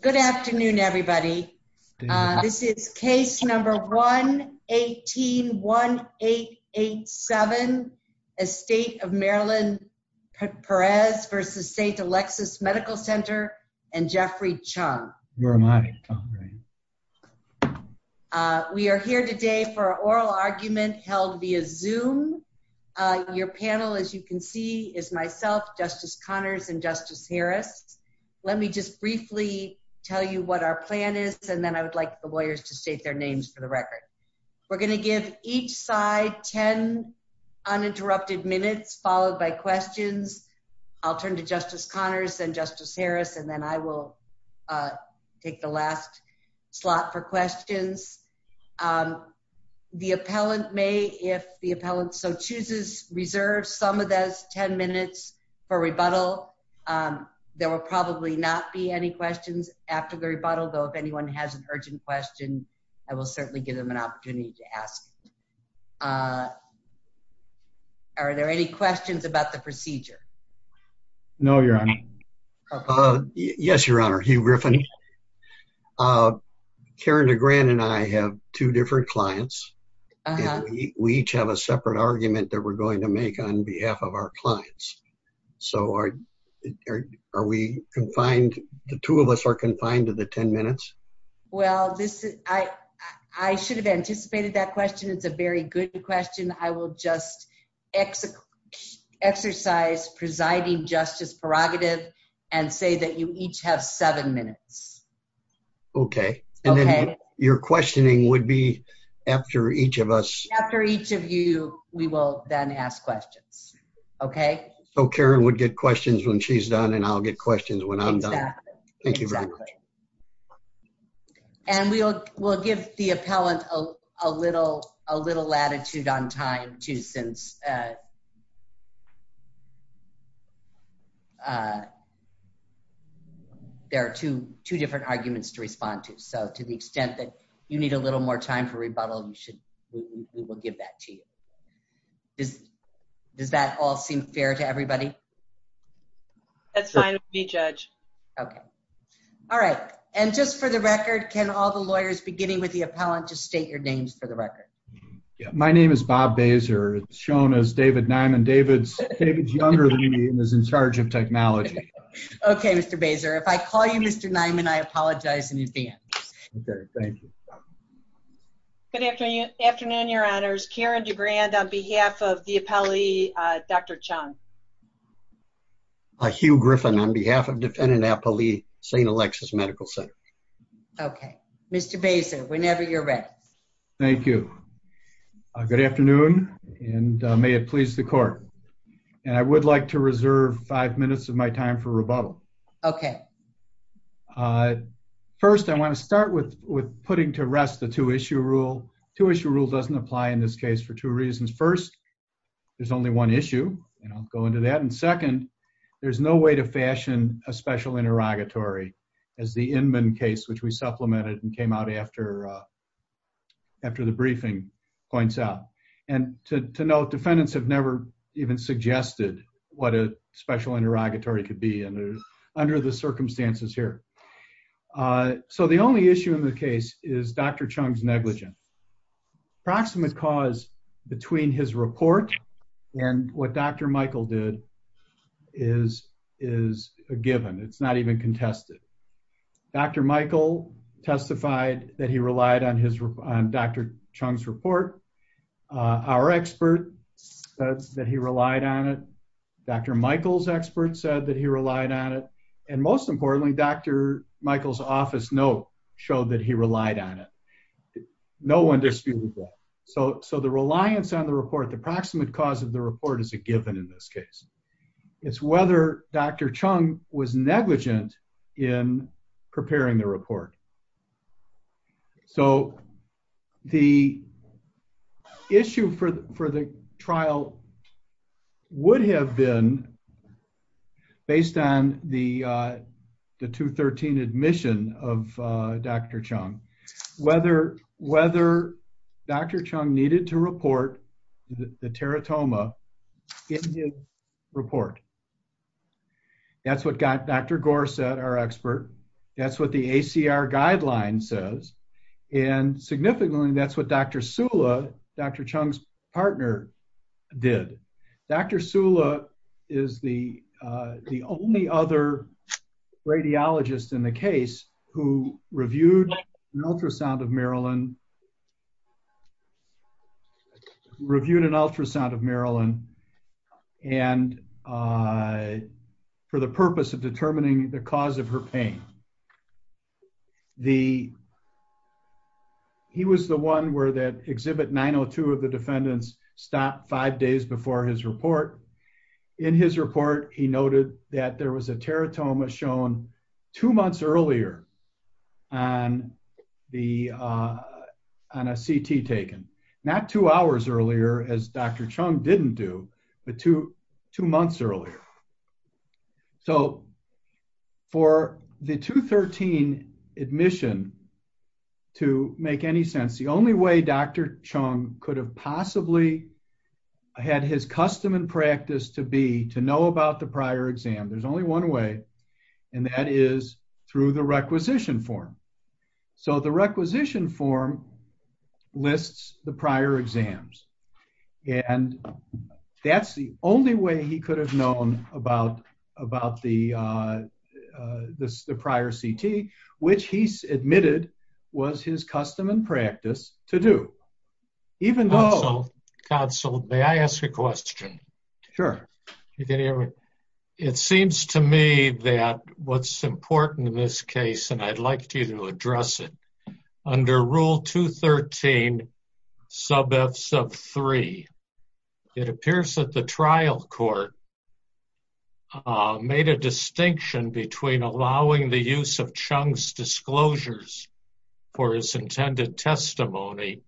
Good afternoon, everybody. This is case number 1-18-1887, Estate of Marilyn Perez v. State Alexis Medical Center and Jeffrey Chung. We are here today for an oral argument held via Zoom. Your panel, as you can see, is myself, Justice Connors, and Justice Harris. Let me just briefly tell you what our plan is, and then I would like the lawyers to state their names for the record. We're going to give each side 10 uninterrupted minutes, followed by questions. I'll turn to Justice Connors and Justice Harris, and then I will take the last slot for questions. The appellant may, if the appellant so chooses, reserve some of 10 minutes for rebuttal. There will probably not be any questions after the rebuttal, though if anyone has an urgent question, I will certainly give them an opportunity to ask. Are there any questions about the procedure? No, Your Honor. Yes, Your Honor. Hugh Griffin. Karen DeGrant and I have two different clients. We each have a separate argument that we're going to make on behalf of our clients. So are we confined, the two of us are confined to the 10 minutes? Well, I should have anticipated that question. It's a very good question. I will just exercise presiding justice prerogative and say that you each have seven minutes. Okay, and then your questioning would be after each of us. After each of you, we will then ask questions. Okay. So Karen would get questions when she's done, and I'll get questions when I'm done. Thank you very much. And we'll give the appellant a little latitude on time, too, since there are two different arguments to respond to. So to the extent that you need a little more time for rebuttal, we will give that to you. Does that all seem fair to everybody? That's fine with me, Judge. Okay. All right. And just for the record, can all the lawyers beginning with the appellant just state your names for the record? My name is Bob Baeser. It's shown as David Nyman. David's younger than me and is in charge of technology. Okay, Mr. Baeser. If I call you Good afternoon, Your Honors. Karen DeGrand on behalf of the appellee, Dr. Chung. Hugh Griffin on behalf of defendant appellee, St. Alexis Medical Center. Okay, Mr. Baeser, whenever you're ready. Thank you. Good afternoon, and may it please the court. And I would like to reserve five minutes of my time for the two-issue rule. Two-issue rule doesn't apply in this case for two reasons. First, there's only one issue, and I'll go into that. And second, there's no way to fashion a special interrogatory as the Inman case, which we supplemented and came out after the briefing points out. And to note, defendants have never even suggested what a special interrogatory could be under the circumstances here. So the only issue in the case is Dr. Chung's negligence. Approximate cause between his report and what Dr. Michael did is a given. It's not even contested. Dr. Michael testified that he relied on Dr. Chung's report. Our expert said that he relied on it. Dr. Michael's said that he relied on it. And most importantly, Dr. Michael's office note showed that he relied on it. No one disputed that. So the reliance on the report, the approximate cause of the report, is a given in this case. It's whether Dr. Chung was negligent in preparing the report. So the issue for the trial would have been, based on the 213 admission of Dr. Chung, whether Dr. Chung needed to report the teratoma in his report. That's what Dr. Gore said, our expert. That's what the ACR guideline says. And significantly, that's what Dr. Sula, Dr. Chung's partner, did. Dr. Sula is the the only other radiologist in the case who reviewed an ultrasound of Marilyn, reviewed an ultrasound of Marilyn, and for the purpose of determining the cause of her that exhibit 902 of the defendants stopped five days before his report. In his report, he noted that there was a teratoma shown two months earlier on the on a CT taken. Not two hours earlier, as Dr. Chung didn't do, but two months earlier. So for the 213 admission, to make any sense, the only way Dr. Chung could have possibly had his custom and practice to be to know about the prior exam, there's only one way, and that is through the requisition form. So the requisition form lists the prior exams, and that's the only way he could have known about the prior CT, which he admitted was his custom and practice to do. Even though... Counsel, may I ask a question? Sure. You can hear me? It seems to me that what's important in this case, and I'd like you to address it, under rule 213, sub F sub three, it appears that the trial court made a distinction between allowing the use of Chung's disclosures for his intended testimony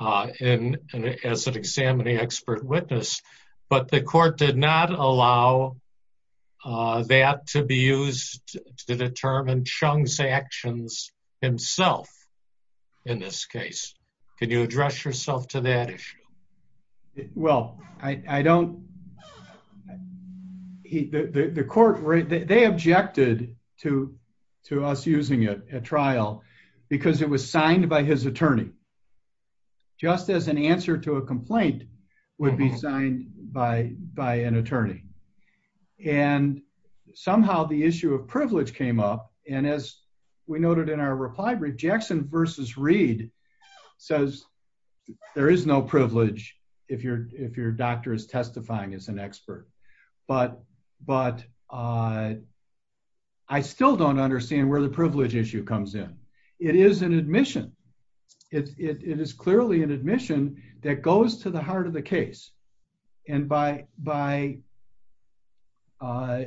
as an examining expert witness, but the court did not allow that to be in this case. Can you address yourself to that issue? Well, I don't... The court, they objected to to us using it at trial because it was signed by his attorney, just as an answer to a complaint would be signed by by an attorney. And somehow the issue of privilege came up, and as we noted in our reply brief, Jackson versus Reed says there is no privilege if your doctor is testifying as an expert. But I still don't understand where the privilege issue comes in. It is an admission. It is clearly an admission that goes to the heart of the case, and by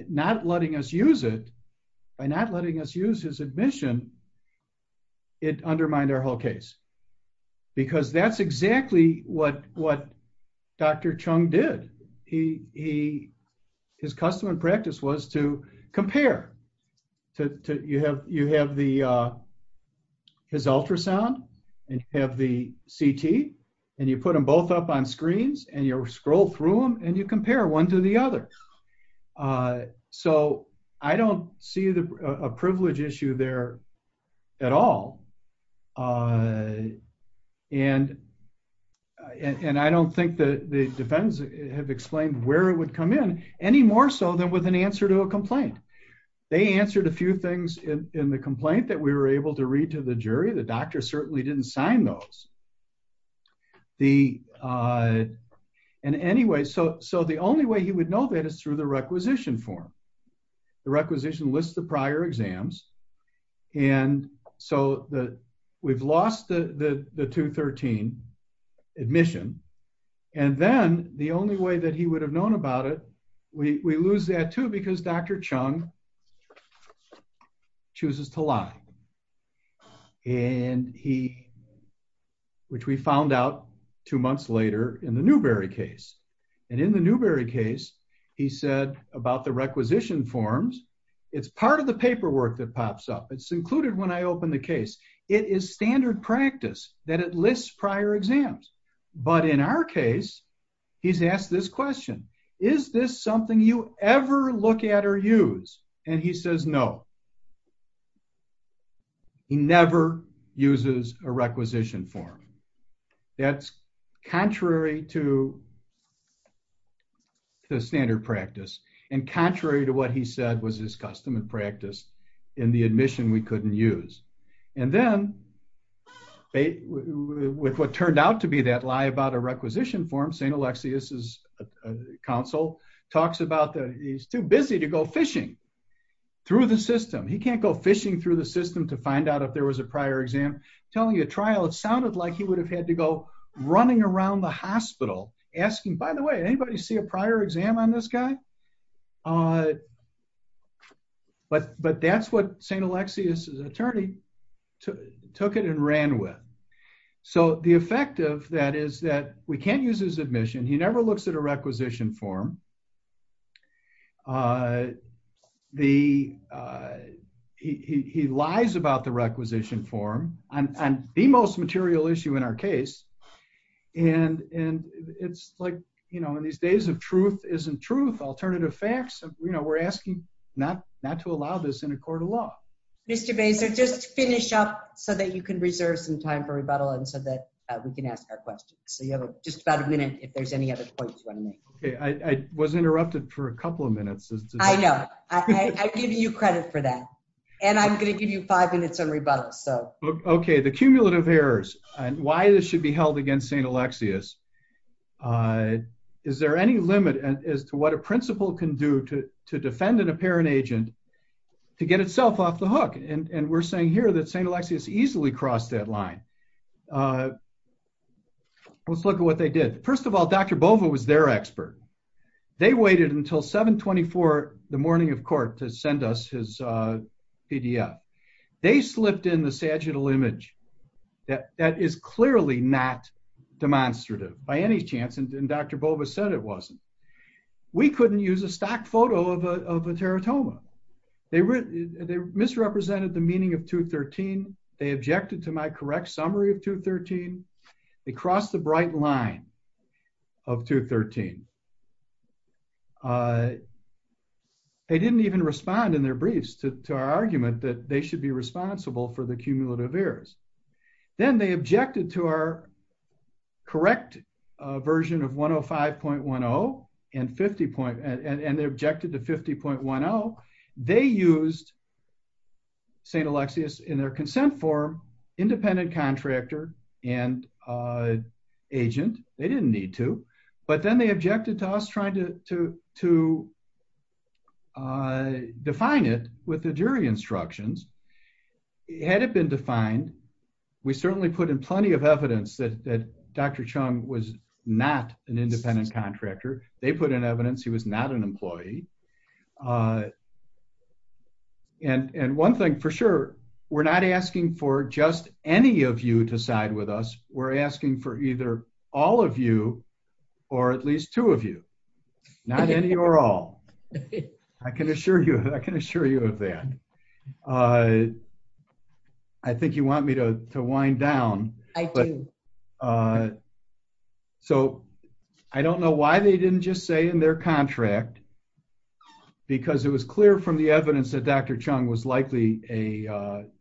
not letting us use it, by not letting us use his admission, it undermined our whole case. Because that's exactly what Dr. Chung did. His custom and practice was to compare. You have his ultrasound, and you have the CT, and you both up on screens, and you scroll through them, and you compare one to the other. So I don't see a privilege issue there at all. And I don't think that the defendants have explained where it would come in, any more so than with an answer to a complaint. They answered a few things in the complaint that we were able to read to the jury. The – and anyway, so the only way he would know that is through the requisition form. The requisition lists the prior exams, and so we've lost the 213 admission, and then the only way that he would have known about it, we lose that too because Dr. Chung chooses to lie. And he – which we found out two months later in the Newberry case. And in the Newberry case, he said about the requisition forms, it's part of the paperwork that pops up. It's included when I open the case. It is standard practice that it lists prior exams. But in our case, he's asked this question. Is this something you ever look at or use? And he says no. He never uses a requisition form. That's contrary to the standard practice, and contrary to what he said was his custom and practice in the admission we couldn't use. And then with what turned out to be that lie about a counsel talks about that he's too busy to go fishing through the system. He can't go fishing through the system to find out if there was a prior exam. Telling you a trial, it sounded like he would have had to go running around the hospital asking, by the way, anybody see a prior exam on this guy? But that's what St. Alexius's attorney took it and ran with. So the effect of that is that we can't use his admission. He never looks at a requisition form. He lies about the requisition form on the most material issue in our case. And it's like, you know, in these days of truth isn't truth, alternative facts, you know, we're asking not to allow this in a court of law. Mr. Baser, just finish up so that you can reserve some time for rebuttal and so that we can ask our questions. So you have just about a minute if there's any other points you want to make. Okay, I was interrupted for a couple of minutes. I know, I give you credit for that. And I'm going to give you five minutes on rebuttal. So okay, the cumulative errors and why this should be held against St. Alexius. Is there any limit as to what a principal can do to defend an apparent agent to get itself off the hook? And we're saying here that St. Alexius easily crossed that line. Let's look at what they did. First of all, Dr. Bova was their expert. They waited until 724 the morning of court to send us his PDF. They slipped in the sagittal image that is clearly not demonstrative by any chance and Dr. Bova said it wasn't. We couldn't use a stock photo of a teratoma. They misrepresented the meaning of 213. They objected to my correct summary of 213. They crossed the bright line of 213. They didn't even respond in their briefs to our argument that they should be responsible for the cumulative errors. Then they objected to our correct version of 105.10 and they objected to 50.10. They used St. Alexius in their consent form, independent contractor and agent. They didn't need to. But then they objected to us trying to define it with the jury instructions. Had it been defined, we certainly put in plenty of evidence that Dr. Chung was not an independent contractor. They put in evidence he was not an employee. And one thing for sure, we're not asking for just any of you to side with us. We're asking for either all of you or at least two of you. Not any or all. I can assure you of that. I think you want me to wind down. So I don't know why they didn't just say in their contract because it was clear from the evidence that Dr. Chung was likely not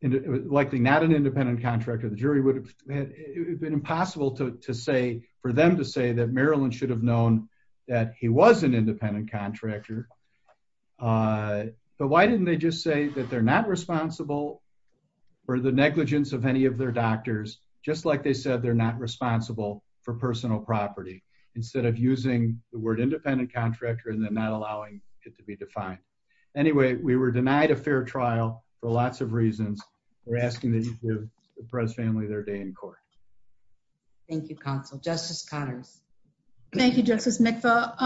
an independent contractor. The jury would have been impossible for them to say that Marilyn should have known that he was an independent contractor. But why didn't they just say that they're not responsible for the negligence of any of their doctors just like they said they're not responsible for personal property instead of using the word independent contractor and then not allowing it to be defined. Anyway, we were denied a fair trial for lots of reasons. We're asking that you give the Perez family their day in court. Thank you, counsel. Justice Connors. Thank you, Justice. Mr.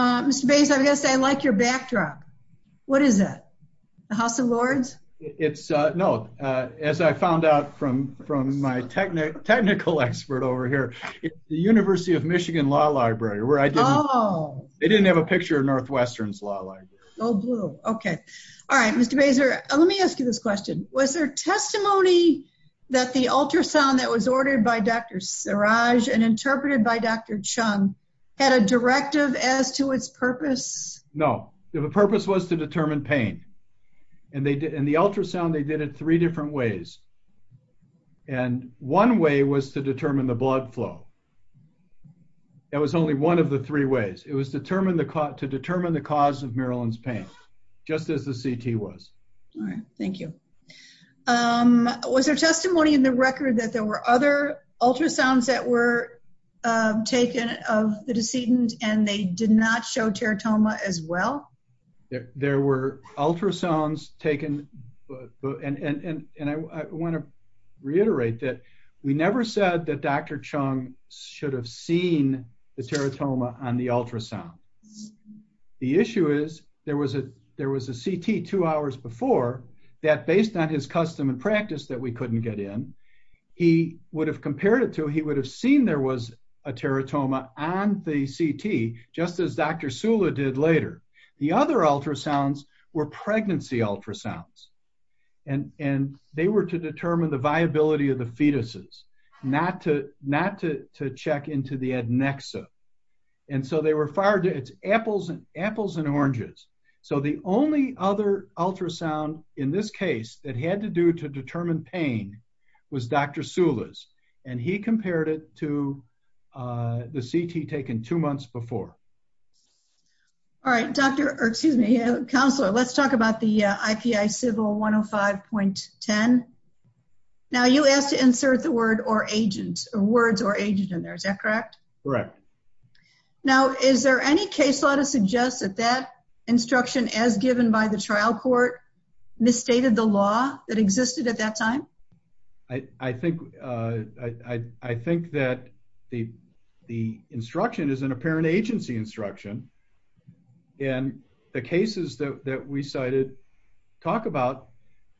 Bayser, I guess I like your backdrop. What is that? The House of Lords? It's no, as I found out from from my technical expert over here, the University of Michigan Law Library where I didn't have a picture of Northwestern's law library. Oh, blue. Okay. All right, Mr. Bayser. Let me ask you this question. Was there testimony that the ultrasound that was ordered by Dr. Siraj and interpreted by Dr. Chung had a directive as to its purpose? No, the purpose was to determine pain. And they did in the ultrasound, they did it three different ways. And one way was to determine the blood flow. That was only one of the three ways it was determined to determine the cause of Marilyn's pain, just as the CT was. All right. Thank you. Um, was there testimony in the record that there were other ultrasounds that were taken of the decedent, and they did not show teratoma as well? There were ultrasounds taken. And I want to reiterate that we never said that Dr. Chung should have seen the teratoma on the ultrasound. The issue is there was a there was a CT two hours before that based on his custom and practice that we couldn't get in, he would have compared it to he would have seen there was a teratoma on the CT, just as Dr. Sula did later. The other ultrasounds were pregnancy ultrasounds. And and they were to determine the viability of the fetuses, not to not to check into the adnexa. And so they were fired. It's apples and apples and oranges. So the only other ultrasound in this case that had to do to determine pain was Dr. Sula's, and he compared it to the CT taken two months before. All right, Dr. Excuse me, counselor, let's talk about the IPI civil 105.10. Now you asked to insert the word or agent or words or agent in there. Is that correct? Correct. Now, is there any case law to suggest that that instruction as given by the trial court, misstated the law that existed at that time? I think I think that the, the instruction is an apparent agency instruction. And the cases that we cited, talk about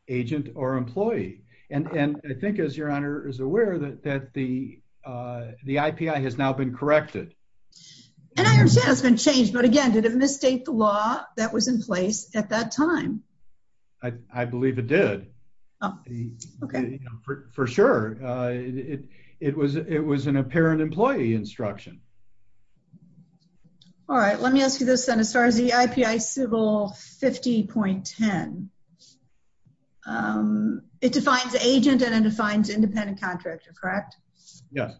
agent or employee. And I think as your is aware that that the the IPI has now been corrected. And I understand it's been changed. But again, did it misstate the law that was in place at that time? I believe it did. Okay, for sure. It was it was an apparent employee instruction. All right, let me ask you this then as far as the IPI civil 50.10. It defines agent and it defines independent contractor, correct? Yes.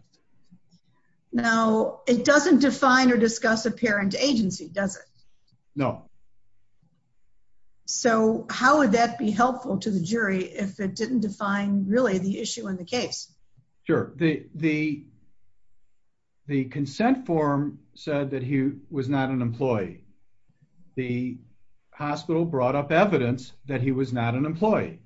Now, it doesn't define or discuss apparent agency, does it? No. So how would that be helpful to the jury if it didn't define really the issue in the case? Sure, the the the consent form said that he was not an employee. The hospital brought up evidence that he was not an employee.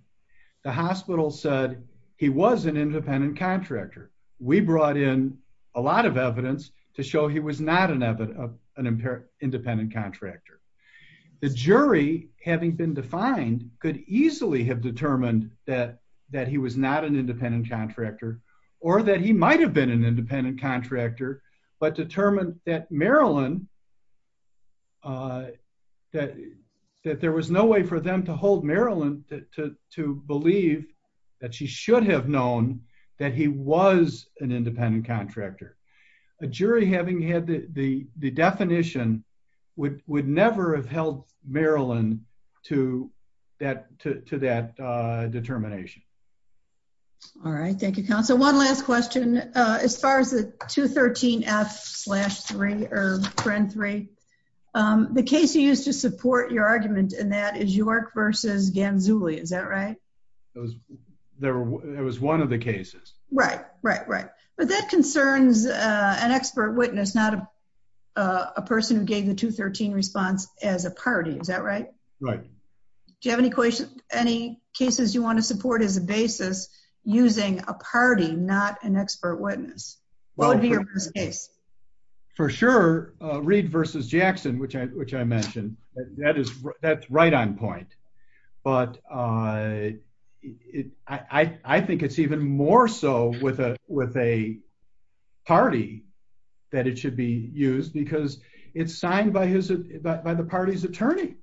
The hospital said he was an independent contractor. We brought in a lot of evidence to show he was not an evident of an impaired independent contractor. The jury, having been defined, could easily have determined that that he was not an independent contractor, or that he might have been an independent contractor, but determined that Marilyn that that there was no way for them to hold Marilyn to believe that she should have known that he was an independent contractor. A jury having had the the definition would would never have held Marilyn to that to that determination. All right. Thank you, counsel. One last question. As far as the 213 F slash three or trend three, the case you used to support your argument in that is York versus Ghanzuli. Is that right? It was there. It was one of the cases. Right, right, right. But that concerns an expert witness, not a person who gave the 213 response as a party. Is that right? Right. Do you have any any cases you want to support as a basis, using a party, not an expert witness? For sure, Reed versus Jackson, which I which I mentioned, that is, that's right on point. But I think it's even more so with a with a party, that it should be used because it's signed by his by the party's attorney.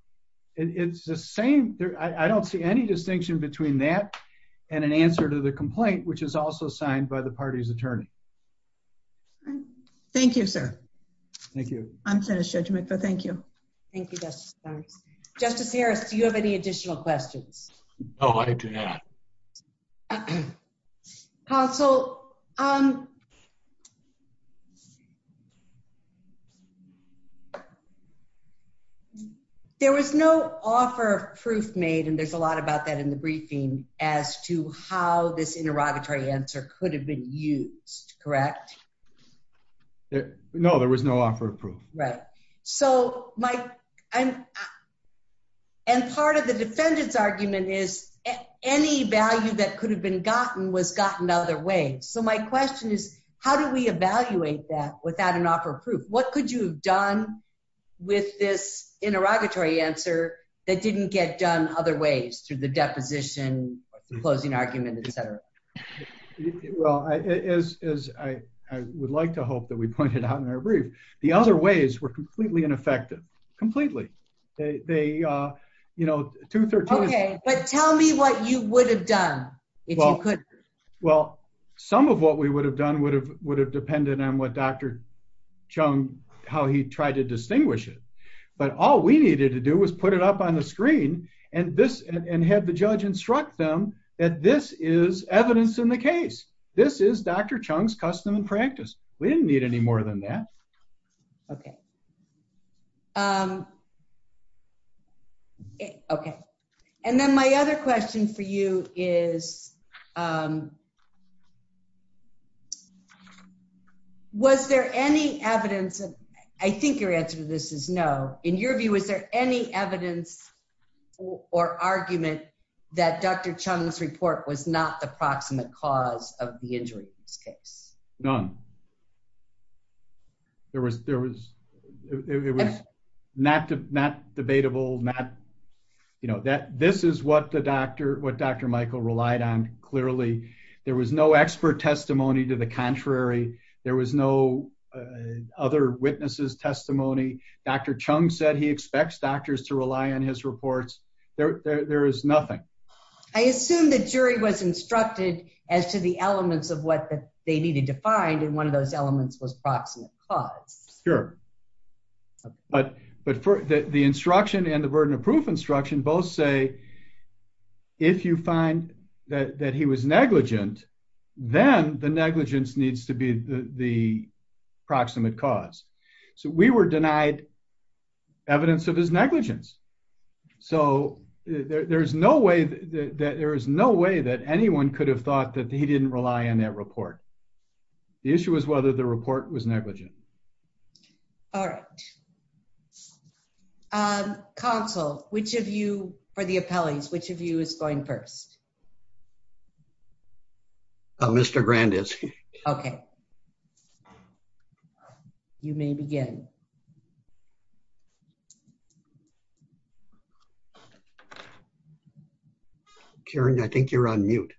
And it's the same. I don't see any distinction between that and an answer to the complaint, which is also signed by the party's attorney. Thank you, sir. Thank you. I'm sure to make the thank you. Thank you. Justice Harris, do you have any additional questions? Oh, I do not. So, there was no offer of proof made. And there's a lot about that in the briefing as to how this interrogatory answer could have been used, correct? No, there was no offer of proof. Right. So my I'm and part of the defendant's argument is any value that could have been gotten was gotten other way. So my question is, how do we evaluate that without an offer of proof? What could you have done with this interrogatory answer that didn't get done other ways through the deposition, closing argument, etc? Well, as I would like to hope that we pointed out in our brief, the other ways were completely ineffective, completely. They, you know, two or three. But tell me what you would have done. Well, some of what we would have done would have would have depended on what Dr. Chung, how he tried to distinguish it. But all we needed to do was put it up on the screen. And this and have the judge instruct them that this is evidence in the case. This is Dr. Chung's custom and practice. We didn't need any more than that. Okay. Okay. And then my other question for you is, was there any evidence? I think your answer to this is no. In your view, is there any evidence or argument that Dr. Chung's report was not the proximate cause of the injury in this case? None. There was, there was, it was not, not debatable, not, you know, that this is what the doctor, what Dr. Michael relied on. Clearly, there was no expert testimony to the contrary. There was no other witnesses testimony. Dr. Chung said he expects doctors to rely on his reports. There is nothing. I assume the jury was instructed as to the elements of what they needed to find. And one of those elements was proximate cause. Sure. But, but for the instruction and the burden of proof instruction both say, if you find that he was negligent, then the negligence needs to be the proximate cause. So we were denied evidence of his negligence. So there's no way that there is no way that anyone could have thought that he didn't rely on that report. The issue was whether the report was going first. Mr. Grand is. Okay. You may begin. Karen, I think you're on mute.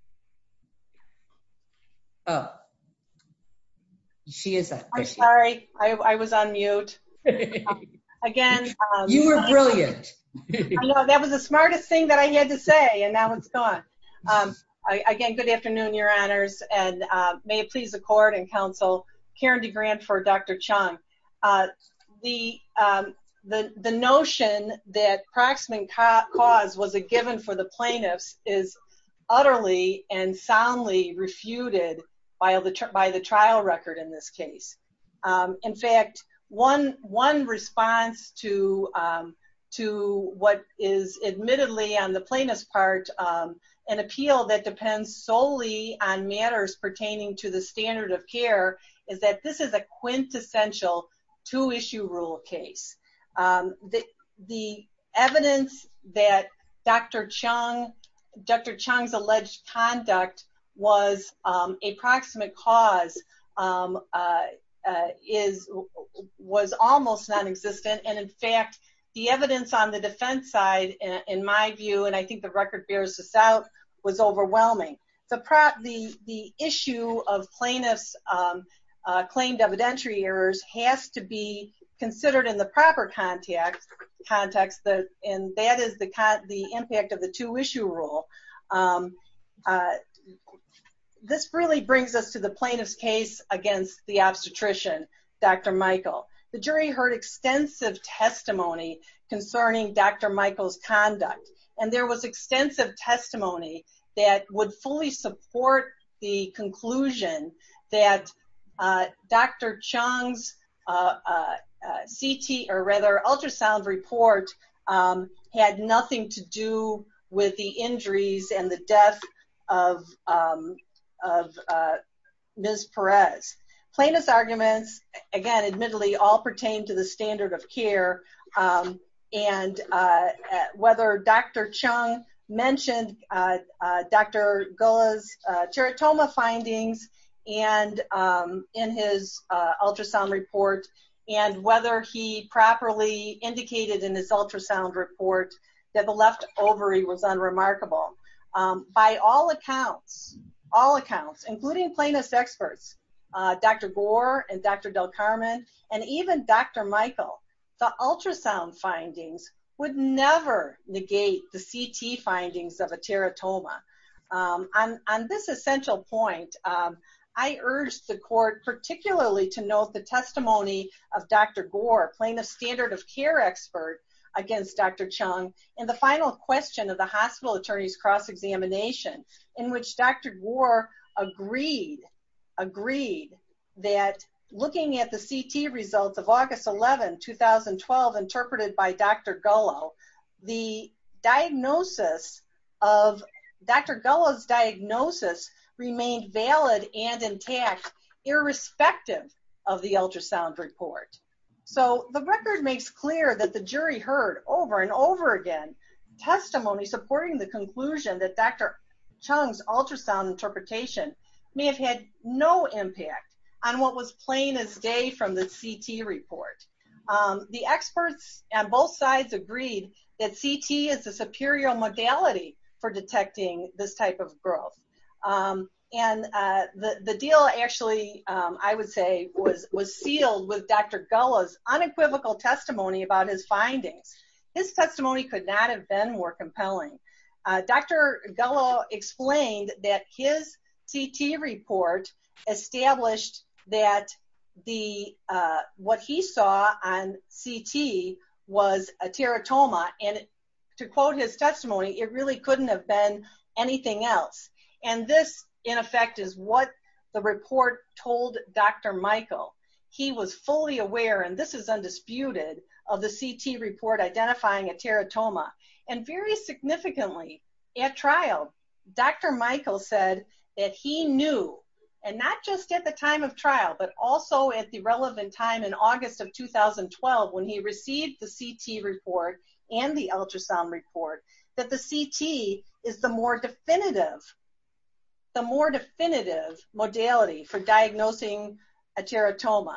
Oh, she is. I'm sorry. I was on mute. Again. You were brilliant. That was the smartest thing that I had to say. And now it's gone. Again, good afternoon, your honors. And may it please the court and counsel, Karen DeGrant for Dr. Chung. The notion that proximate cause was a given for the plaintiffs is utterly and soundly refuted by the trial record in this case. In fact, one response to what is admittedly on the plaintiff's part, an appeal that depends solely on matters pertaining to the standard of care is that this is a quintessential two issue rule of case. The evidence that Dr. Chung's alleged conduct was a proximate cause was almost non-existent. And in fact, the evidence on the defense side, in my view, and I think the record bears this out, was overwhelming. The issue of plaintiffs claimed evidentiary errors has to be considered in the proper context. And that is the impact of the two issue rule. This really brings us to the plaintiff's case against the obstetrician, Dr. Michael. The jury heard extensive testimony concerning Dr. Michael's conduct, and there was extensive testimony that would fully support the conclusion that Dr. Chung's CT or rather ultrasound report had nothing to do with the injuries and the death of Ms. Perez. Plaintiff's arguments, again, admittedly all pertain to the standard of care, and whether Dr. Chung mentioned Dr. Gola's teratoma findings in his ultrasound report, and whether he properly indicated in his ultrasound report that the left ovary was unremarkable. By all accounts, all accounts, including plaintiff's experts, Dr. Gore and Dr. Del Carmen, and even Dr. Michael, the ultrasound findings would never negate the CT findings of a Dr. Gore, plaintiff's standard of care expert against Dr. Chung, and the final question of the hospital attorney's cross-examination, in which Dr. Gore agreed that looking at the CT results of August 11, 2012, interpreted by Dr. Golo, Dr. Golo's diagnosis remained valid and So, the record makes clear that the jury heard over and over again testimony supporting the conclusion that Dr. Chung's ultrasound interpretation may have had no impact on what was plain as day from the CT report. The experts on both sides agreed that CT is the superior modality for detecting this type of growth, and the deal actually, I would say, was sealed with Dr. Golo's unequivocal testimony about his findings. His testimony could not have been more compelling. Dr. Golo explained that his CT report established that what he saw on CT was a teratoma, and to quote his testimony, it really couldn't have been anything else, and this, in effect, is what the report told Dr. Michael. He was fully aware, and this is undisputed, of the CT report identifying a teratoma, and very significantly, at trial, Dr. Michael said that he knew, and not just at the time of trial, but also at the relevant time in August of 2012, when he received the CT report and the ultrasound report, that the definitive, the more definitive modality for diagnosing a teratoma,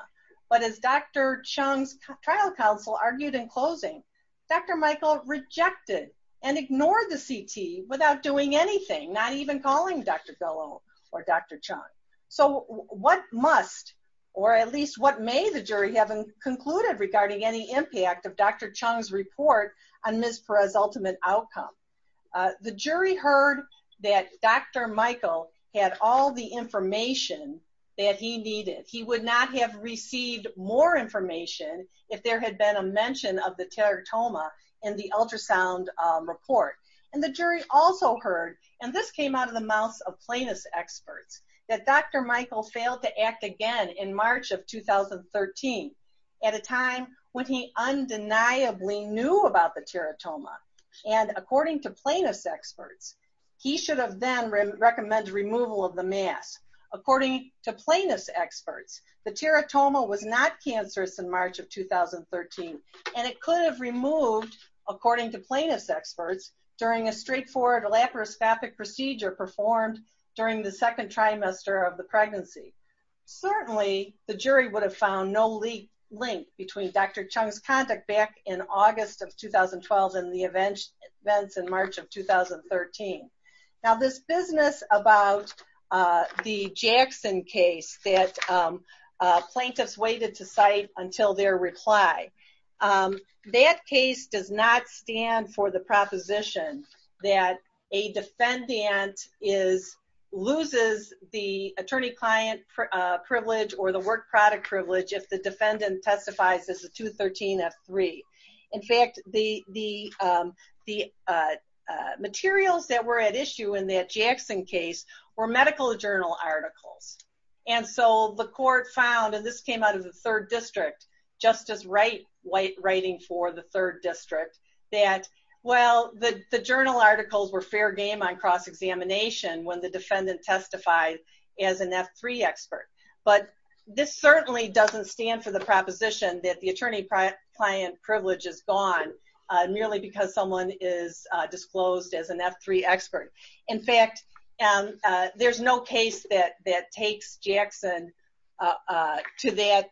but as Dr. Chung's trial counsel argued in closing, Dr. Michael rejected and ignored the CT without doing anything, not even calling Dr. Golo or Dr. Chung. So what must, or at least what may the jury have concluded regarding any impact of Dr. Chung's report on Ms. Perez's ultimate outcome? The jury heard that Dr. Michael had all the information that he needed. He would not have received more information if there had been a mention of the teratoma in the ultrasound report, and the jury also heard, and this came out of the mouths of plaintiff's experts, that Dr. Michael failed to act again in 2013, at a time when he undeniably knew about the teratoma, and according to plaintiff's experts, he should have then recommended removal of the mass. According to plaintiff's experts, the teratoma was not cancerous in March of 2013, and it could have removed, according to plaintiff's experts, during a straightforward laparoscopic procedure performed during the second trimester of the year. The jury would have found no link between Dr. Chung's conduct back in August of 2012 and the events in March of 2013. Now this business about the Jackson case that plaintiffs waited to cite until their reply, that case does not stand for the proposition that a defendant loses the work product privilege if the defendant testifies as a 213 F3. In fact, the materials that were at issue in that Jackson case were medical journal articles, and so the court found, and this came out of the third district, Justice Wright writing for the third district, that well, the journal articles were fair game on cross-examination when the defendant testified as an F3 expert, but this certainly doesn't stand for the proposition that the attorney-client privilege is gone merely because someone is disclosed as an F3 expert. In fact, there's no case that takes Jackson to that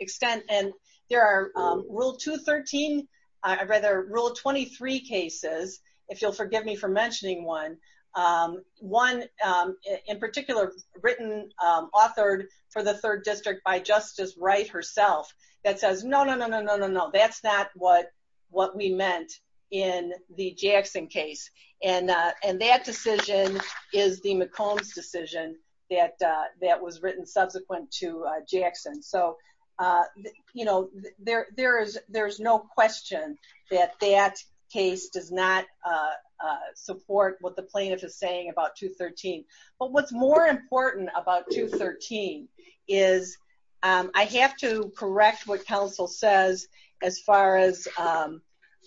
extent, and there are Rule 213, or rather Rule 23 cases, if you'll forgive me for mentioning one, one in particular written, authored for the third district by Justice Wright herself, that says no, no, no, no, no, no, no, that's not what we meant in the Jackson case, and that decision is the McCombs decision that was written subsequent to Jackson. So, you know, there's no question that that case does not support what the plaintiff is saying about 213, but what's more important about 213 is I have to correct what counsel says as far as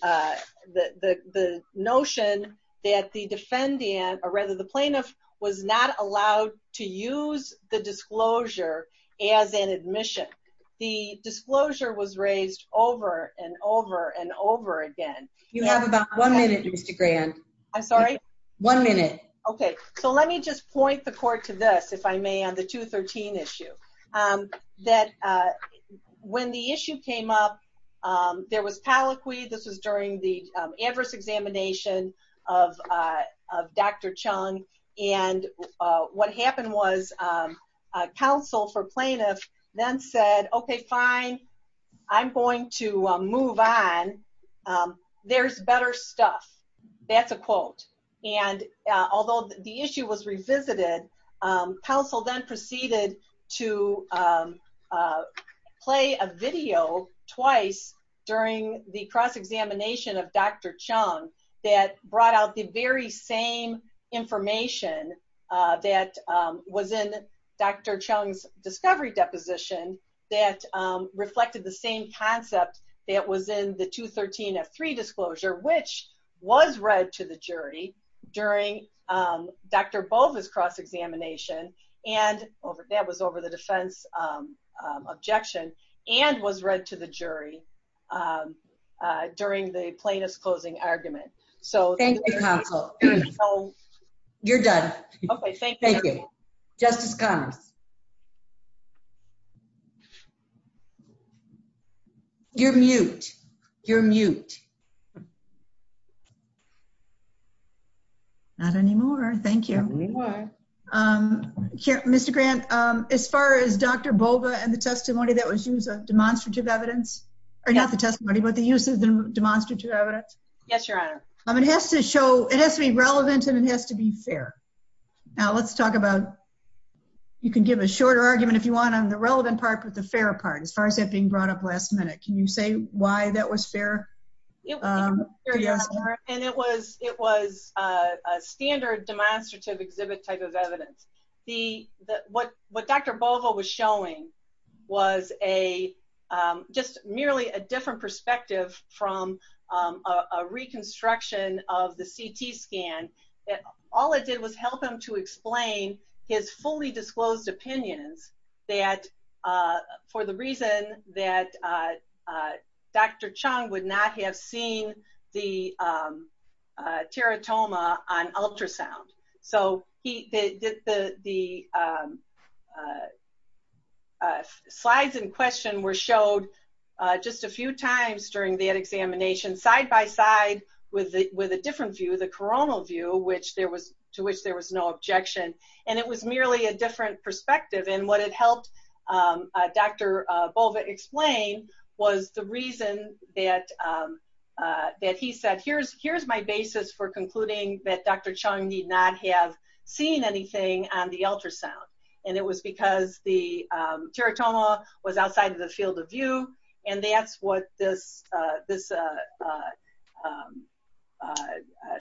the notion that the defendant, or rather the plaintiff, was not allowed to use the disclosure as an admission. The disclosure was raised over and over and over again. You have about one minute, Mr. Grand. I'm sorry? One minute. Okay, so let me just point the court to this, if I may, on the 213 issue, that when the issue came up, there was palliquy, this was during the adverse examination of Dr. Chung, and what happened was counsel for plaintiff then said, okay, fine, I'm going to move on, there's better stuff. That's a quote. And although the issue was revisited, counsel then proceeded to play a video twice during the cross-examination of Dr. Chung that brought out the very same information that was in Dr. Chung's discovery deposition that reflected the same concept that was in the 213 F3 disclosure, which was read to the jury during Dr. Bova's cross-examination, and that was over the defense objection, and was read to the jury during the plaintiff's closing argument. Thank you, counsel. You're done. Okay, thank you. Justice Connors. You're mute. You're mute. Not anymore, thank you. Mr. Grand, as far as Dr. Bova and the testimony that was used, demonstrative evidence, or not the testimony, but the use of the demonstrative evidence? Yes, your honor. It has to be relevant and it has to be fair. Now, let's talk about, you can give a shorter argument if you want on the relevant part, but the fair part, as far as that being brought up last minute. Can you say why that was fair? And it was a standard demonstrative exhibit type of evidence. What Dr. Bova was showing was just merely a different perspective from a reconstruction of the CT scan. All it did was help him to explain his fully disclosed opinions that, for the reason that Dr. Chung would not have seen the teratoma on ultrasound. So, the slides in question were showed just a few times during that examination, side by side with a different view, the coronal view, to which there was no objection. And it was merely a the reason that he said, here's my basis for concluding that Dr. Chung did not have seen anything on the ultrasound. And it was because the teratoma was outside of the field of view. And that's what this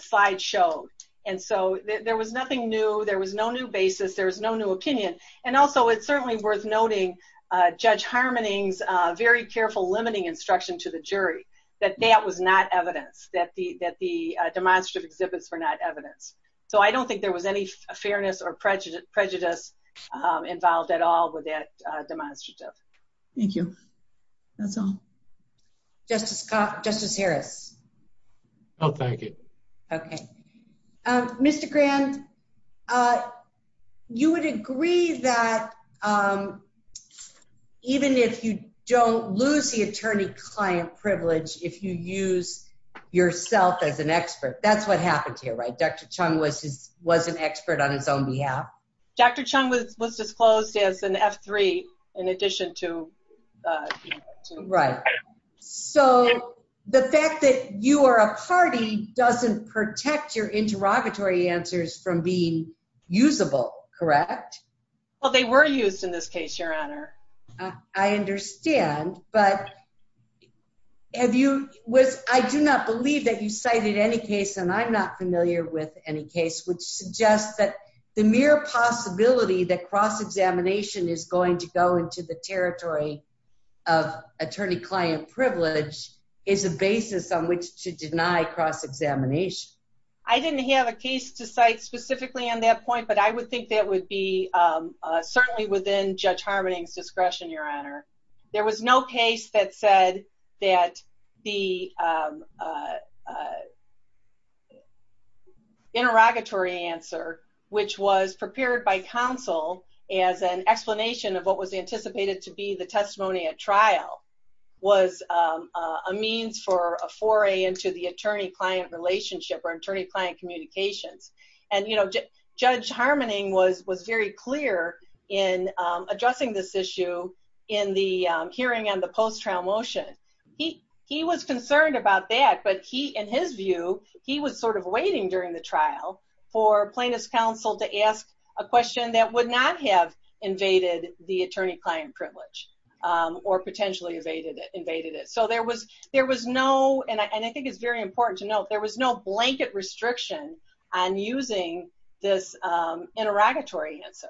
slide showed. And so, there was nothing new. There was no new basis. There was no new opinion. And also, it's certainly worth noting Judge Harmoning's very careful limiting instruction to the jury that that was not evidence, that the demonstrative exhibits were not evidence. So, I don't think there was any fairness or prejudice involved at all with that demonstrative. Thank you. That's all. Justice Harris. I'll take it. Okay. Mr. Grand, you would agree that even if you don't lose the attorney-client privilege, if you use yourself as an expert, that's what happened here, right? Dr. Chung was an expert on his own behalf? Dr. Chung was disclosed as an F3 in addition to... Right. So, the fact that you are a party doesn't protect your interrogatory answers from being usable, correct? Well, they were used in this case, Your Honor. I understand. But I do not believe that you cited any case, and I'm not familiar with any case, which suggests that the mere possibility that cross-examination is going to go into the territory of attorney-client privilege is a basis on which to cross-examine. I didn't have a case to cite specifically on that point, but I would think that would be certainly within Judge Harmoning's discretion, Your Honor. There was no case that said that the interrogatory answer, which was prepared by counsel as an explanation of what anticipated to be the testimony at trial, was a means for a foray into the attorney-client relationship or attorney-client communications. And Judge Harmoning was very clear in addressing this issue in the hearing on the post-trial motion. He was concerned about that, but he, in his view, he was sort of waiting during the trial for plaintiff's counsel to ask a question that would not have invaded the attorney-client privilege or potentially invaded it. And I think it's very important to note, there was no blanket restriction on using this interrogatory answer.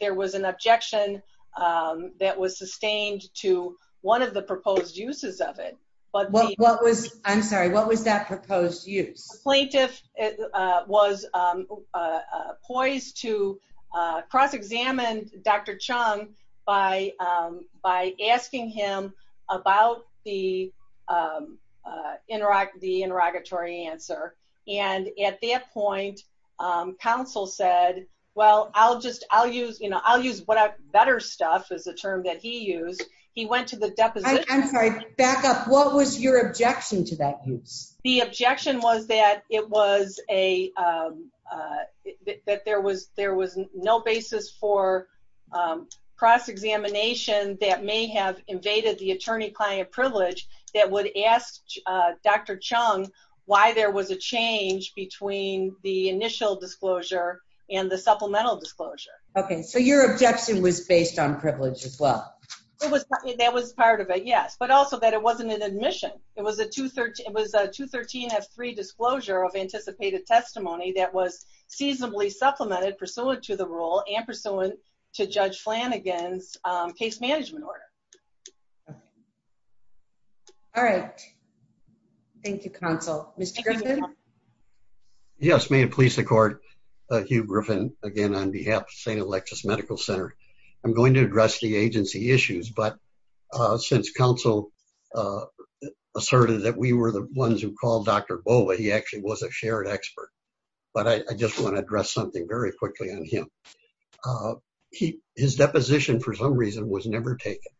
There was an objection that was sustained to one of the proposed uses of it. What was, I'm sorry, what was that proposed use? The plaintiff was poised to cross-examine Dr. Chung by asking him about the interrogatory answer. And at that point, counsel said, well, I'll just, I'll use, you know, I'll use better stuff, is the term that he used. He went to the deposition. I'm sorry, back up. What was your objection to that use? The objection was that it was a, that there was, there was no basis for cross-examination that may have invaded the attorney-client privilege that would ask Dr. Chung why there was a change between the initial disclosure and the supplemental disclosure. Okay. So your objection was based on privilege as well. That was part of it, yes. But also that it wasn't an admission. It was a 213-F3 disclosure of anticipated testimony that was seasonably supplemented pursuant to the rule and pursuant to Judge Flanagan's case management order. All right. Thank you, counsel. Mr. Griffin? Yes. May it please the court, Hugh Griffin, again, on behalf of St. Alexis Medical Center. I'm going to address the agency issues, but since counsel asserted that we were the ones who called Dr. Bova, he actually was a shared expert, but I just want to address something very quickly on him. He, his deposition for some reason was never taken.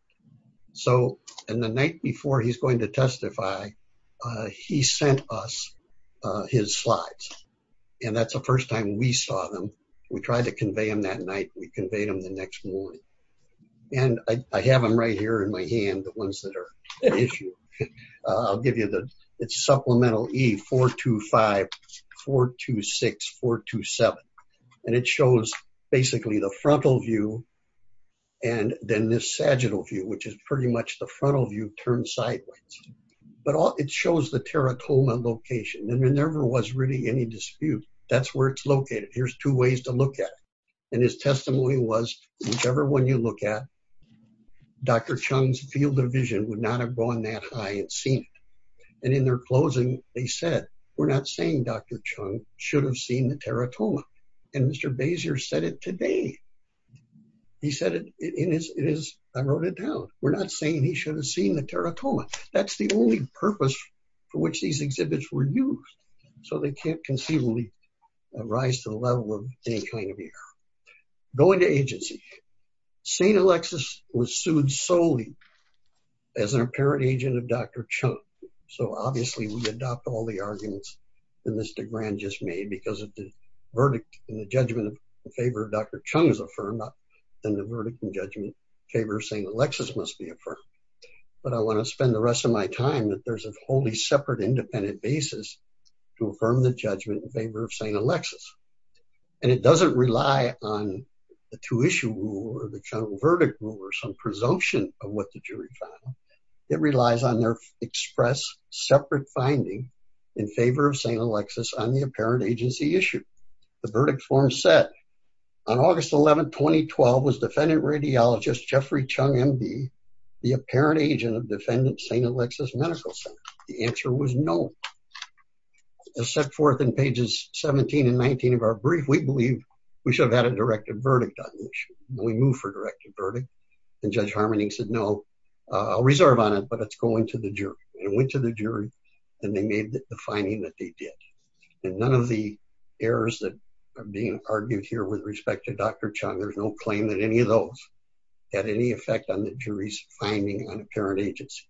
So, and the night before he's going to testify, he sent us his slides. And that's the first time we saw them. We tried to convey them that night. We conveyed them the next morning. And I have them right here in my hand, the ones that are an issue. I'll give you the, it's supplemental E-425, 426, 427. And it shows basically the frontal view and then this sagittal view, which is pretty much the frontal view turned sideways, but it shows the teratoma location. And there never was really any dispute. That's where it's located. Here's two ways to look at it. And his testimony was whichever one you look at, Dr. Chung's field of vision would not have gone that high and seen it. And in their closing, they said, we're not saying Dr. Chung should have seen the teratoma. And Mr. Basier said it today. He said it in his, I wrote it down. We're not saying he should have seen the teratoma. That's the only purpose for which these exhibits were used. So they can't conceivably rise to the level of any kind of error. Going to agency, St. Alexis was sued solely as an apparent agent of Dr. Chung. So obviously we adopt all the arguments that Mr. Grand just made because of the judgment in favor of Dr. Chung is affirmed, then the verdict and judgment in favor of St. Alexis must be affirmed. But I want to spend the rest of my time that there's a wholly separate, independent basis to affirm the judgment in favor of St. Alexis. And it doesn't rely on the two issue rule or the general verdict rule or some presumption of what the jury found. It relies on their express separate finding in favor of St. Alexis on the apparent agency issue. The verdict form said on August 11th, 2012 was defendant radiologist Jeffrey Chung MD, the apparent agent of defendant St. Alexis Medical Center. The answer was no. As set forth in pages 17 and 19 of our brief, we believe we should have had a directed verdict on the issue. We moved for a directed verdict. And Judge Harmon said, no, I'll reserve on it, but it's going to the jury. And it went to the jury and they made the finding that they did. And none of the errors that are being argued here with respect to Dr. Chung, there's no claim that any of those had any effect on the jury's finding on apparent agency.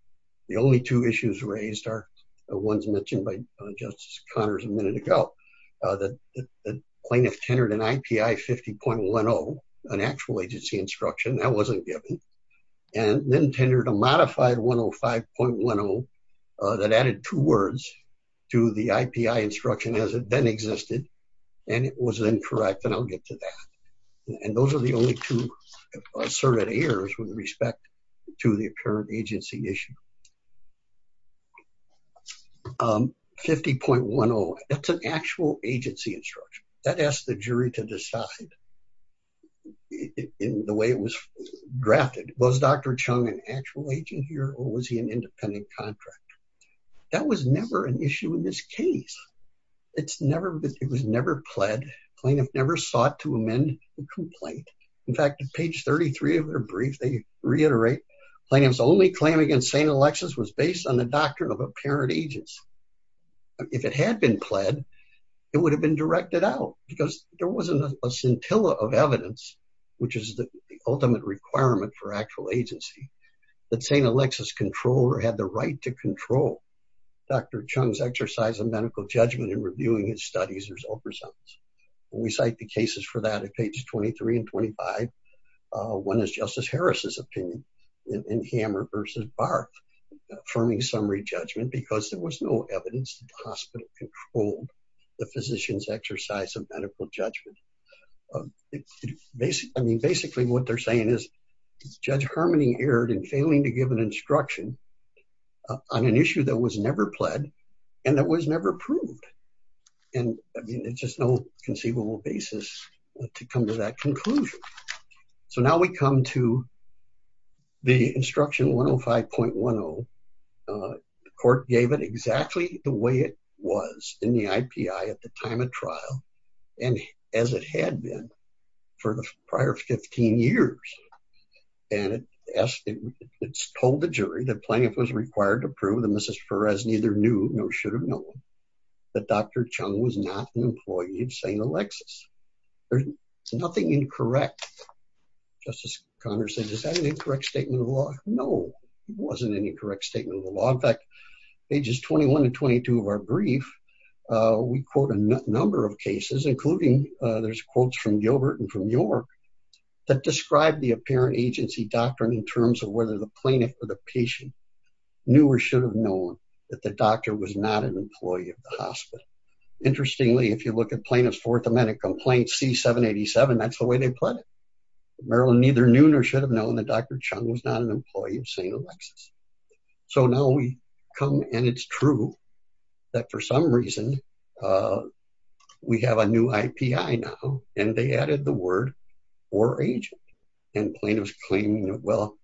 The only two issues raised are the ones mentioned by Justice Connors a minute ago, that the plaintiff tendered an IPI 50.10, an actual agency instruction that wasn't given, and then tendered a modified 105.10, that added two words to the IPI instruction as it then existed. And it was incorrect. And I'll get to that. And those are the only two surveyed errors with respect to the apparent agency issue. 50.10, it's an actual agency instruction that asked the jury to decide in the way it was drafted. Was Dr. Chung an actual agent here, or was he an independent contractor? That was never an issue in this case. It was never pled. Plaintiff never sought to amend the complaint. In fact, page 33 of their brief, they reiterate plaintiff's only claim against St. Alexis was based on the doctrine of apparent agents. If it had been pled, it would have been directed out because there wasn't a scintilla of evidence, which is the ultimate requirement for actual agency, that St. Alexis controller had the right to control Dr. Chung's exercise of medical judgment in reviewing his studies or his oversight. We cite the cases for that at pages 23 and 25. One is Justice Harris's opinion in Hammer versus Barr affirming summary judgment because there was no evidence that the hospital controlled the physician's exercise of medical judgment. Basically, what they're saying is, Judge Harmony erred in failing to give an instruction on an issue that was never pled and that was never approved. And I mean, it's just no conceivable basis to come to that conclusion. So now we come to the instruction 105.10. The court gave it exactly the way it was in the IPI at the time of trial and as it had been for the prior 15 years. And it's told the jury that plaintiff was required to prove that Mrs. Perez neither knew nor should have known that Dr. Chung was not an employee of St. Alexis. There's nothing incorrect. Justice Conner said, is that an incorrect statement of the law? No, it wasn't an incorrect statement of the law. In fact, pages 21 and 22 of our brief, we quote a number of cases, including there's quotes from Gilbert and from York that described the apparent agency doctrine in terms of whether the plaintiff or the if you look at plaintiff's fourth amendment complaint C-787, that's the way they pled it. Marilyn neither knew nor should have known that Dr. Chung was not an employee of St. Alexis. So now we come and it's true that for some reason, we have a new IPI now and they added the word or agent and plaintiff's claiming, well,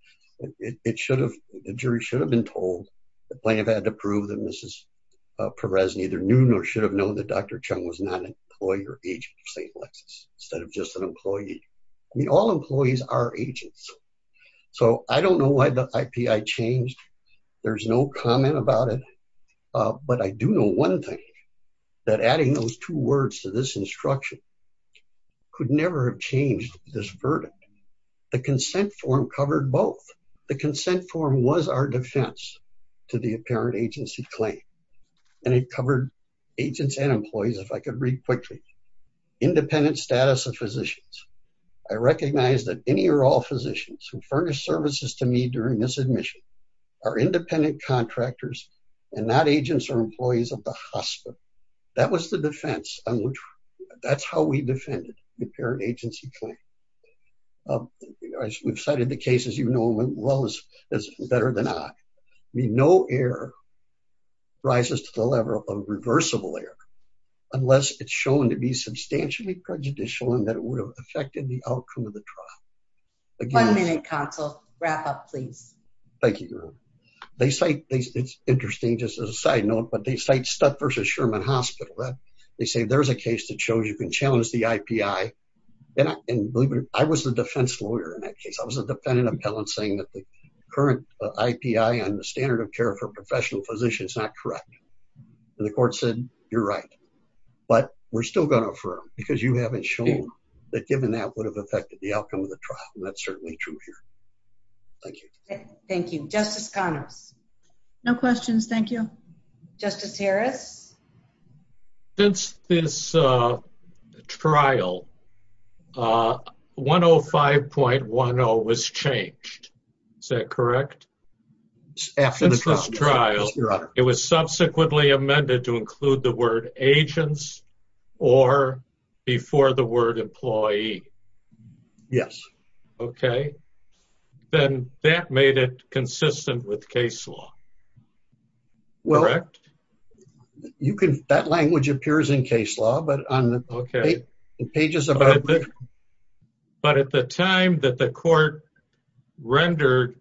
it should have, the jury should have been told the plaintiff had to prove that Mrs. Perez neither knew nor should have known that Dr. Chung was not an employee or agent of St. Alexis instead of just an employee. I mean, all employees are agents. So I don't know why the IPI changed. There's no comment about it. But I do know one thing that adding those two words to this instruction could never have changed this verdict. The consent form covered both. The consent form was our defense to the apparent agency claim and it covered agents and employees. If I could read quickly, independent status of physicians. I recognize that any or all physicians who furnish services to me during this admission are independent contractors and not agents or employees of the hospital. That was the defense on which, that's how we defended the apparent agency claim. As we've cited the cases, you know them as well as better than I. I mean, no error rises to the level of reversible error unless it's shown to be substantially prejudicial and that it would have affected the outcome of the trial. One minute counsel, wrap up please. Thank you. Thank you. Justice Connors. No questions. Thank you. Justice Harris. Since this trial, 105.10 was changed. Is that correct? Since this trial, it was subsequently amended to include the word agents or before the word employee. Yes. Okay. Then that made it appears in case law, but on the pages. But at the time that the court rendered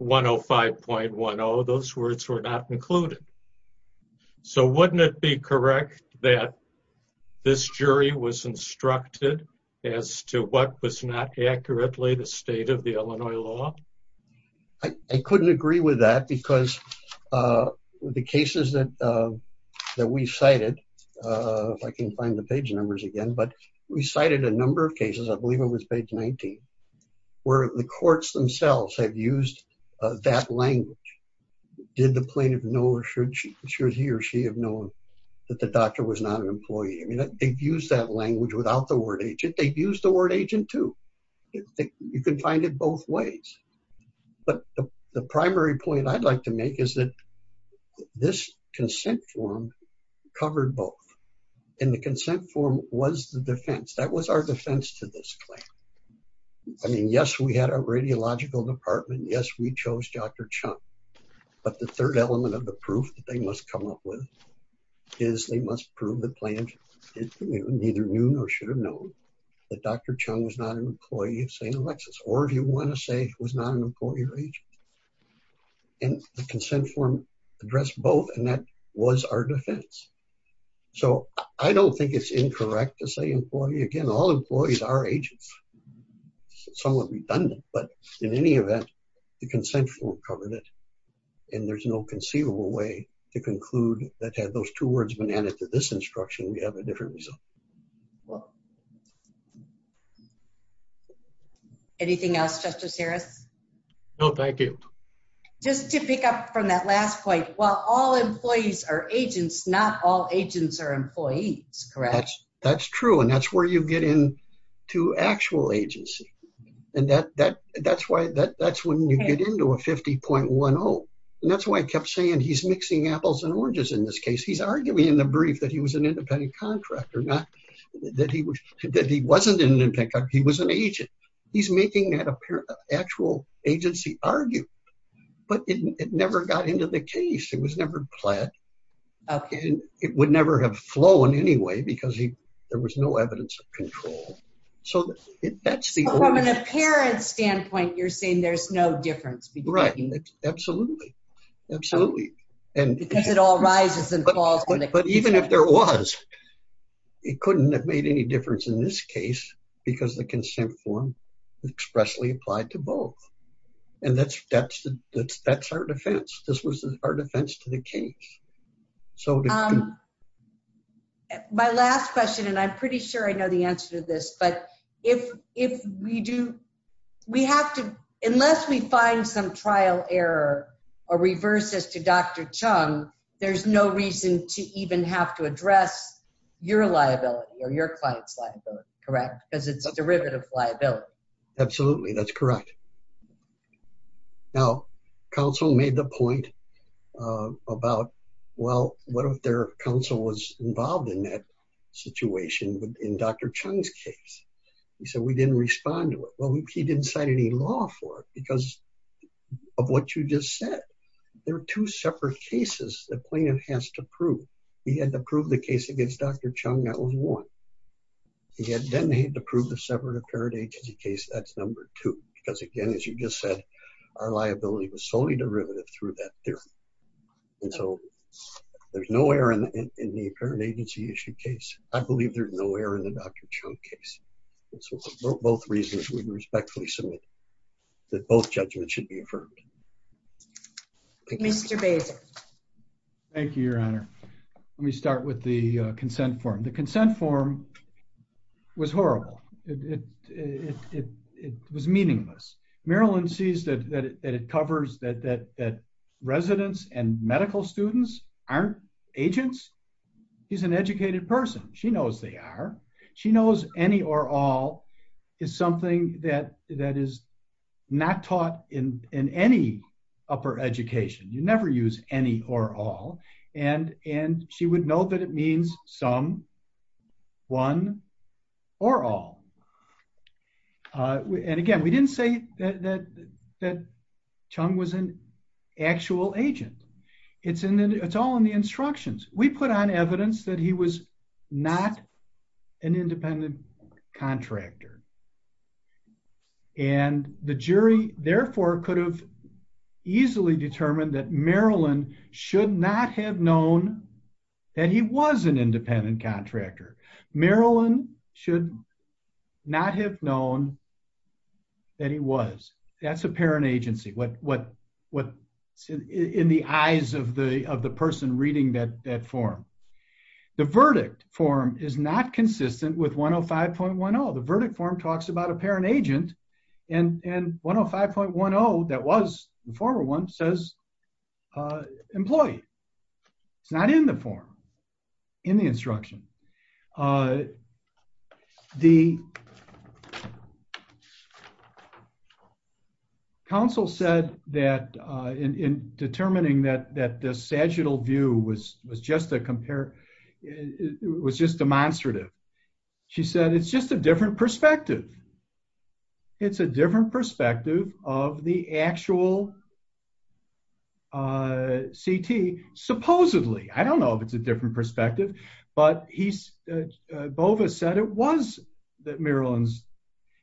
105.10, those words were not included. So wouldn't it be correct that this jury was instructed as to what was not accurately the state of the Illinois law? I couldn't agree with that because of the cases that we cited. If I can find the page numbers again, but we cited a number of cases. I believe it was page 19 where the courts themselves have used that language. Did the plaintiff know or should he or she have known that the doctor was not an employee? I mean, they've used that language without the word agent. They've used the word agent too. You can find it both ways. But the primary point I'd like to make is that this consent form covered both. And the consent form was the defense. That was our defense to this claim. I mean, yes, we had a radiological department. Yes, we chose Dr. Chung. But the third element of the proof that they must come up with is they must prove the plaintiff. Neither knew nor should have known that Dr. Chung was not an employee of St. Alexis, or if you want to say he was not an employee or agent. And the consent form addressed both, and that was our defense. So I don't think it's incorrect to say employee. Again, all employees are agents. Somewhat redundant, but in any event, the consent form covered it. And there's no conceivable way to conclude that had those two words been added to this result. Anything else, Justice Harris? No, thank you. Just to pick up from that last point, while all employees are agents, not all agents are employees, correct? That's true. And that's where you get in to actual agency. And that's when you get into a 50.10. And that's why I kept saying he's mixing apples and oranges in this case. He's arguing in the brief that he was an agent. He's making that actual agency argue. But it never got into the case. It was never pledged. It would never have flown anyway, because there was no evidence of control. So from an apparent standpoint, you're saying there's no difference between them? Absolutely. Because it all rises and falls. But even if there was, it couldn't have made any difference in this case, because the consent form expressly applied to both. And that's our defense. This was our defense to the case. My last question, and I'm pretty sure I know the answer to this, but if we do, we have to, unless we find some trial error or reverses to Dr. Chung, there's no reason to even have to address your liability or your client's liability, correct? Because it's a derivative liability. Absolutely, that's correct. Now, counsel made the point about, well, what if their counsel was involved in that case? He said, we didn't respond to it. Well, he didn't sign any law for it because of what you just said. There are two separate cases the plaintiff has to prove. He had to prove the case against Dr. Chung, that was one. He had then to prove the separate apparent agency case, that's number two. Because again, as you just said, our liability was solely derivative through that theory. And so there's no error in the apparent agency issue case. I believe there's error in the Dr. Chung case. It's both reasons we respectfully submit that both judgments should be affirmed. Mr. Bader. Thank you, your honor. Let me start with the consent form. The consent form was horrible. It was meaningless. Maryland sees that it covers that residents and medical students aren't agents. He's an educated person. She knows they are. She knows any or all is something that is not taught in any upper education. You never use any or all. And she would know that it means some, one, or all. And again, we didn't say that Chung was an actual agent. It's all in the instructions. We put on evidence that he was not an independent contractor. And the jury therefore could have easily determined that Maryland should not have known that he was an independent contractor. Maryland should not have known that he was. That's a parent agency. What's in the eyes of the person reading that form. The verdict form is not consistent with 105.10. The verdict form talks about a parent agent and 105.10 that was the it's not in the form, in the instruction. The counsel said that in determining that the sagittal view was just a compare, was just demonstrative. She said, it's just a different perspective. It's a different perspective of the actual CT. Supposedly, I don't know if it's a different perspective, but he's, Bova said it was that Maryland's,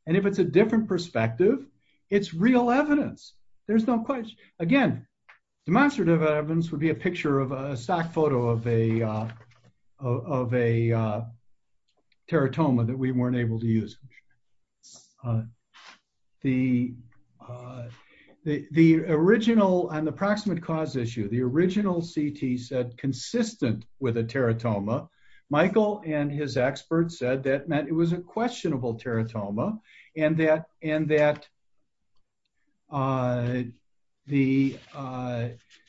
and if it's a different perspective, it's real evidence. There's no question. Again, demonstrative evidence would be a picture of a stock photo of a teratoma that we weren't able to use. The original and the proximate cause issue, the original CT said consistent with a teratoma. Michael and his experts said that meant it was a questionable teratoma and that the,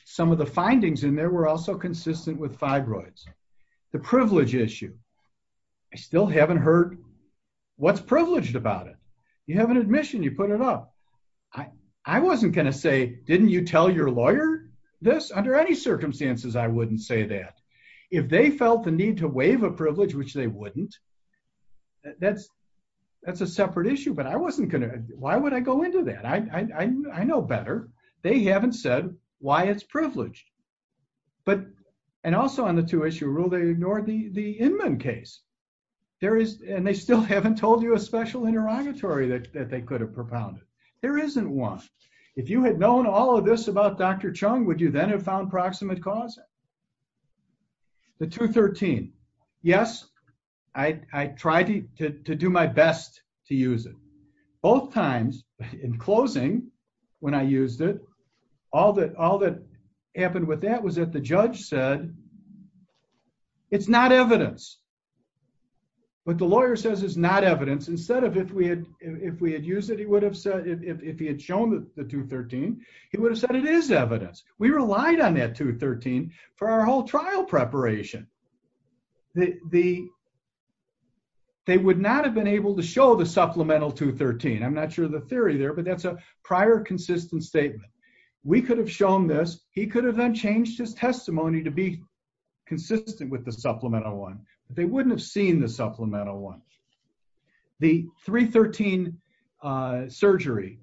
some of the findings in there were also consistent with fibroids. The privilege issue, I still haven't heard what's privileged about it. You have an admission, you put it up. I wasn't going to say, didn't you tell your lawyer this? Under any circumstances, I wouldn't say that. If they felt the need to waive a privilege, which they wouldn't, that's a separate issue, but I wasn't going to, why would I go into that? I know better. They haven't said why it's privileged, but, and also on the two issue rule, they ignored the Inman case. There is, and they still haven't told you a special interrogatory that they could have propounded. There isn't one. If you had known all of this about Dr. Chung, would you then have found proximate cause? The 213. Yes, I tried to do my best to use it. Both times, in closing, when I used it, all that happened with that was that the judge said, it's not evidence. What the lawyer says is not evidence. Instead of if we had used it, he would have said, if he had shown the 213, he would have said it is evidence. We relied on that 213 for our whole trial preparation. They would not have been able to show the supplemental 213. I'm not sure the theory there, but that's a prior consistent statement. We could have shown this. He could have then changed his testimony to be consistent with the supplemental one, but they wouldn't have the supplemental one. The 313 surgery,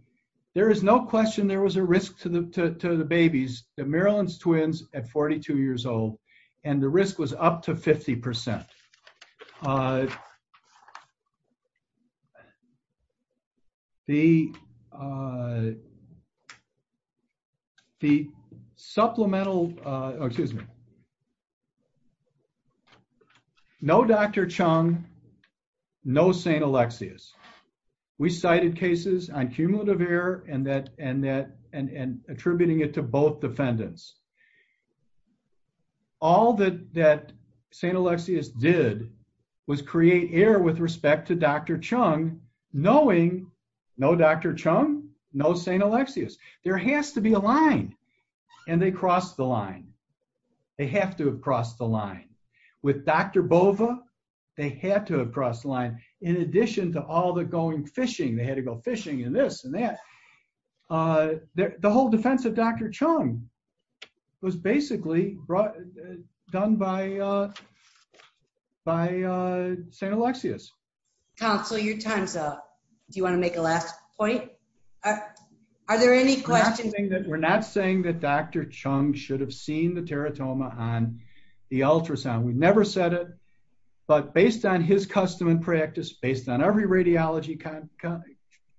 there is no question there was a risk to the babies, the Maryland's twins at 42 years old, and the risk was up to 50%. The supplemental, excuse me, no Dr. Chung, no St. Alexius. We cited cases on cumulative error and attributing it to both no Dr. Chung, no St. Alexius. There has to be a line, and they crossed the line. They have to have crossed the line. With Dr. Bova, they had to have crossed the line, in addition to all the going fishing. They had to go fishing and this and that. The whole defense of Dr. Chung was basically done by St. Alexius. Counsel, your time's up. Do you want to make a last point? Are there any questions? We're not saying that Dr. Chung should have seen the teratoma on the ultrasound. We've never said it, but based on his custom and practice, based on every radiology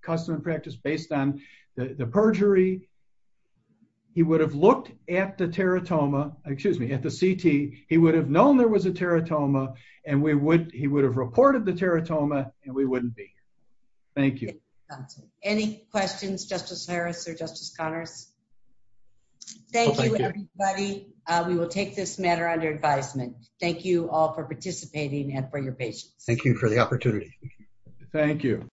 custom and practice, based on the perjury, he would have looked at the CT. He would have known there was a teratoma, and he would have reported the teratoma, and we wouldn't be. Thank you. Any questions, Justice Harris or Justice Connors? Thank you, everybody. We will take this matter under advisement. Thank you all for participating and for your patience. Thank you for the opportunity. Thank you.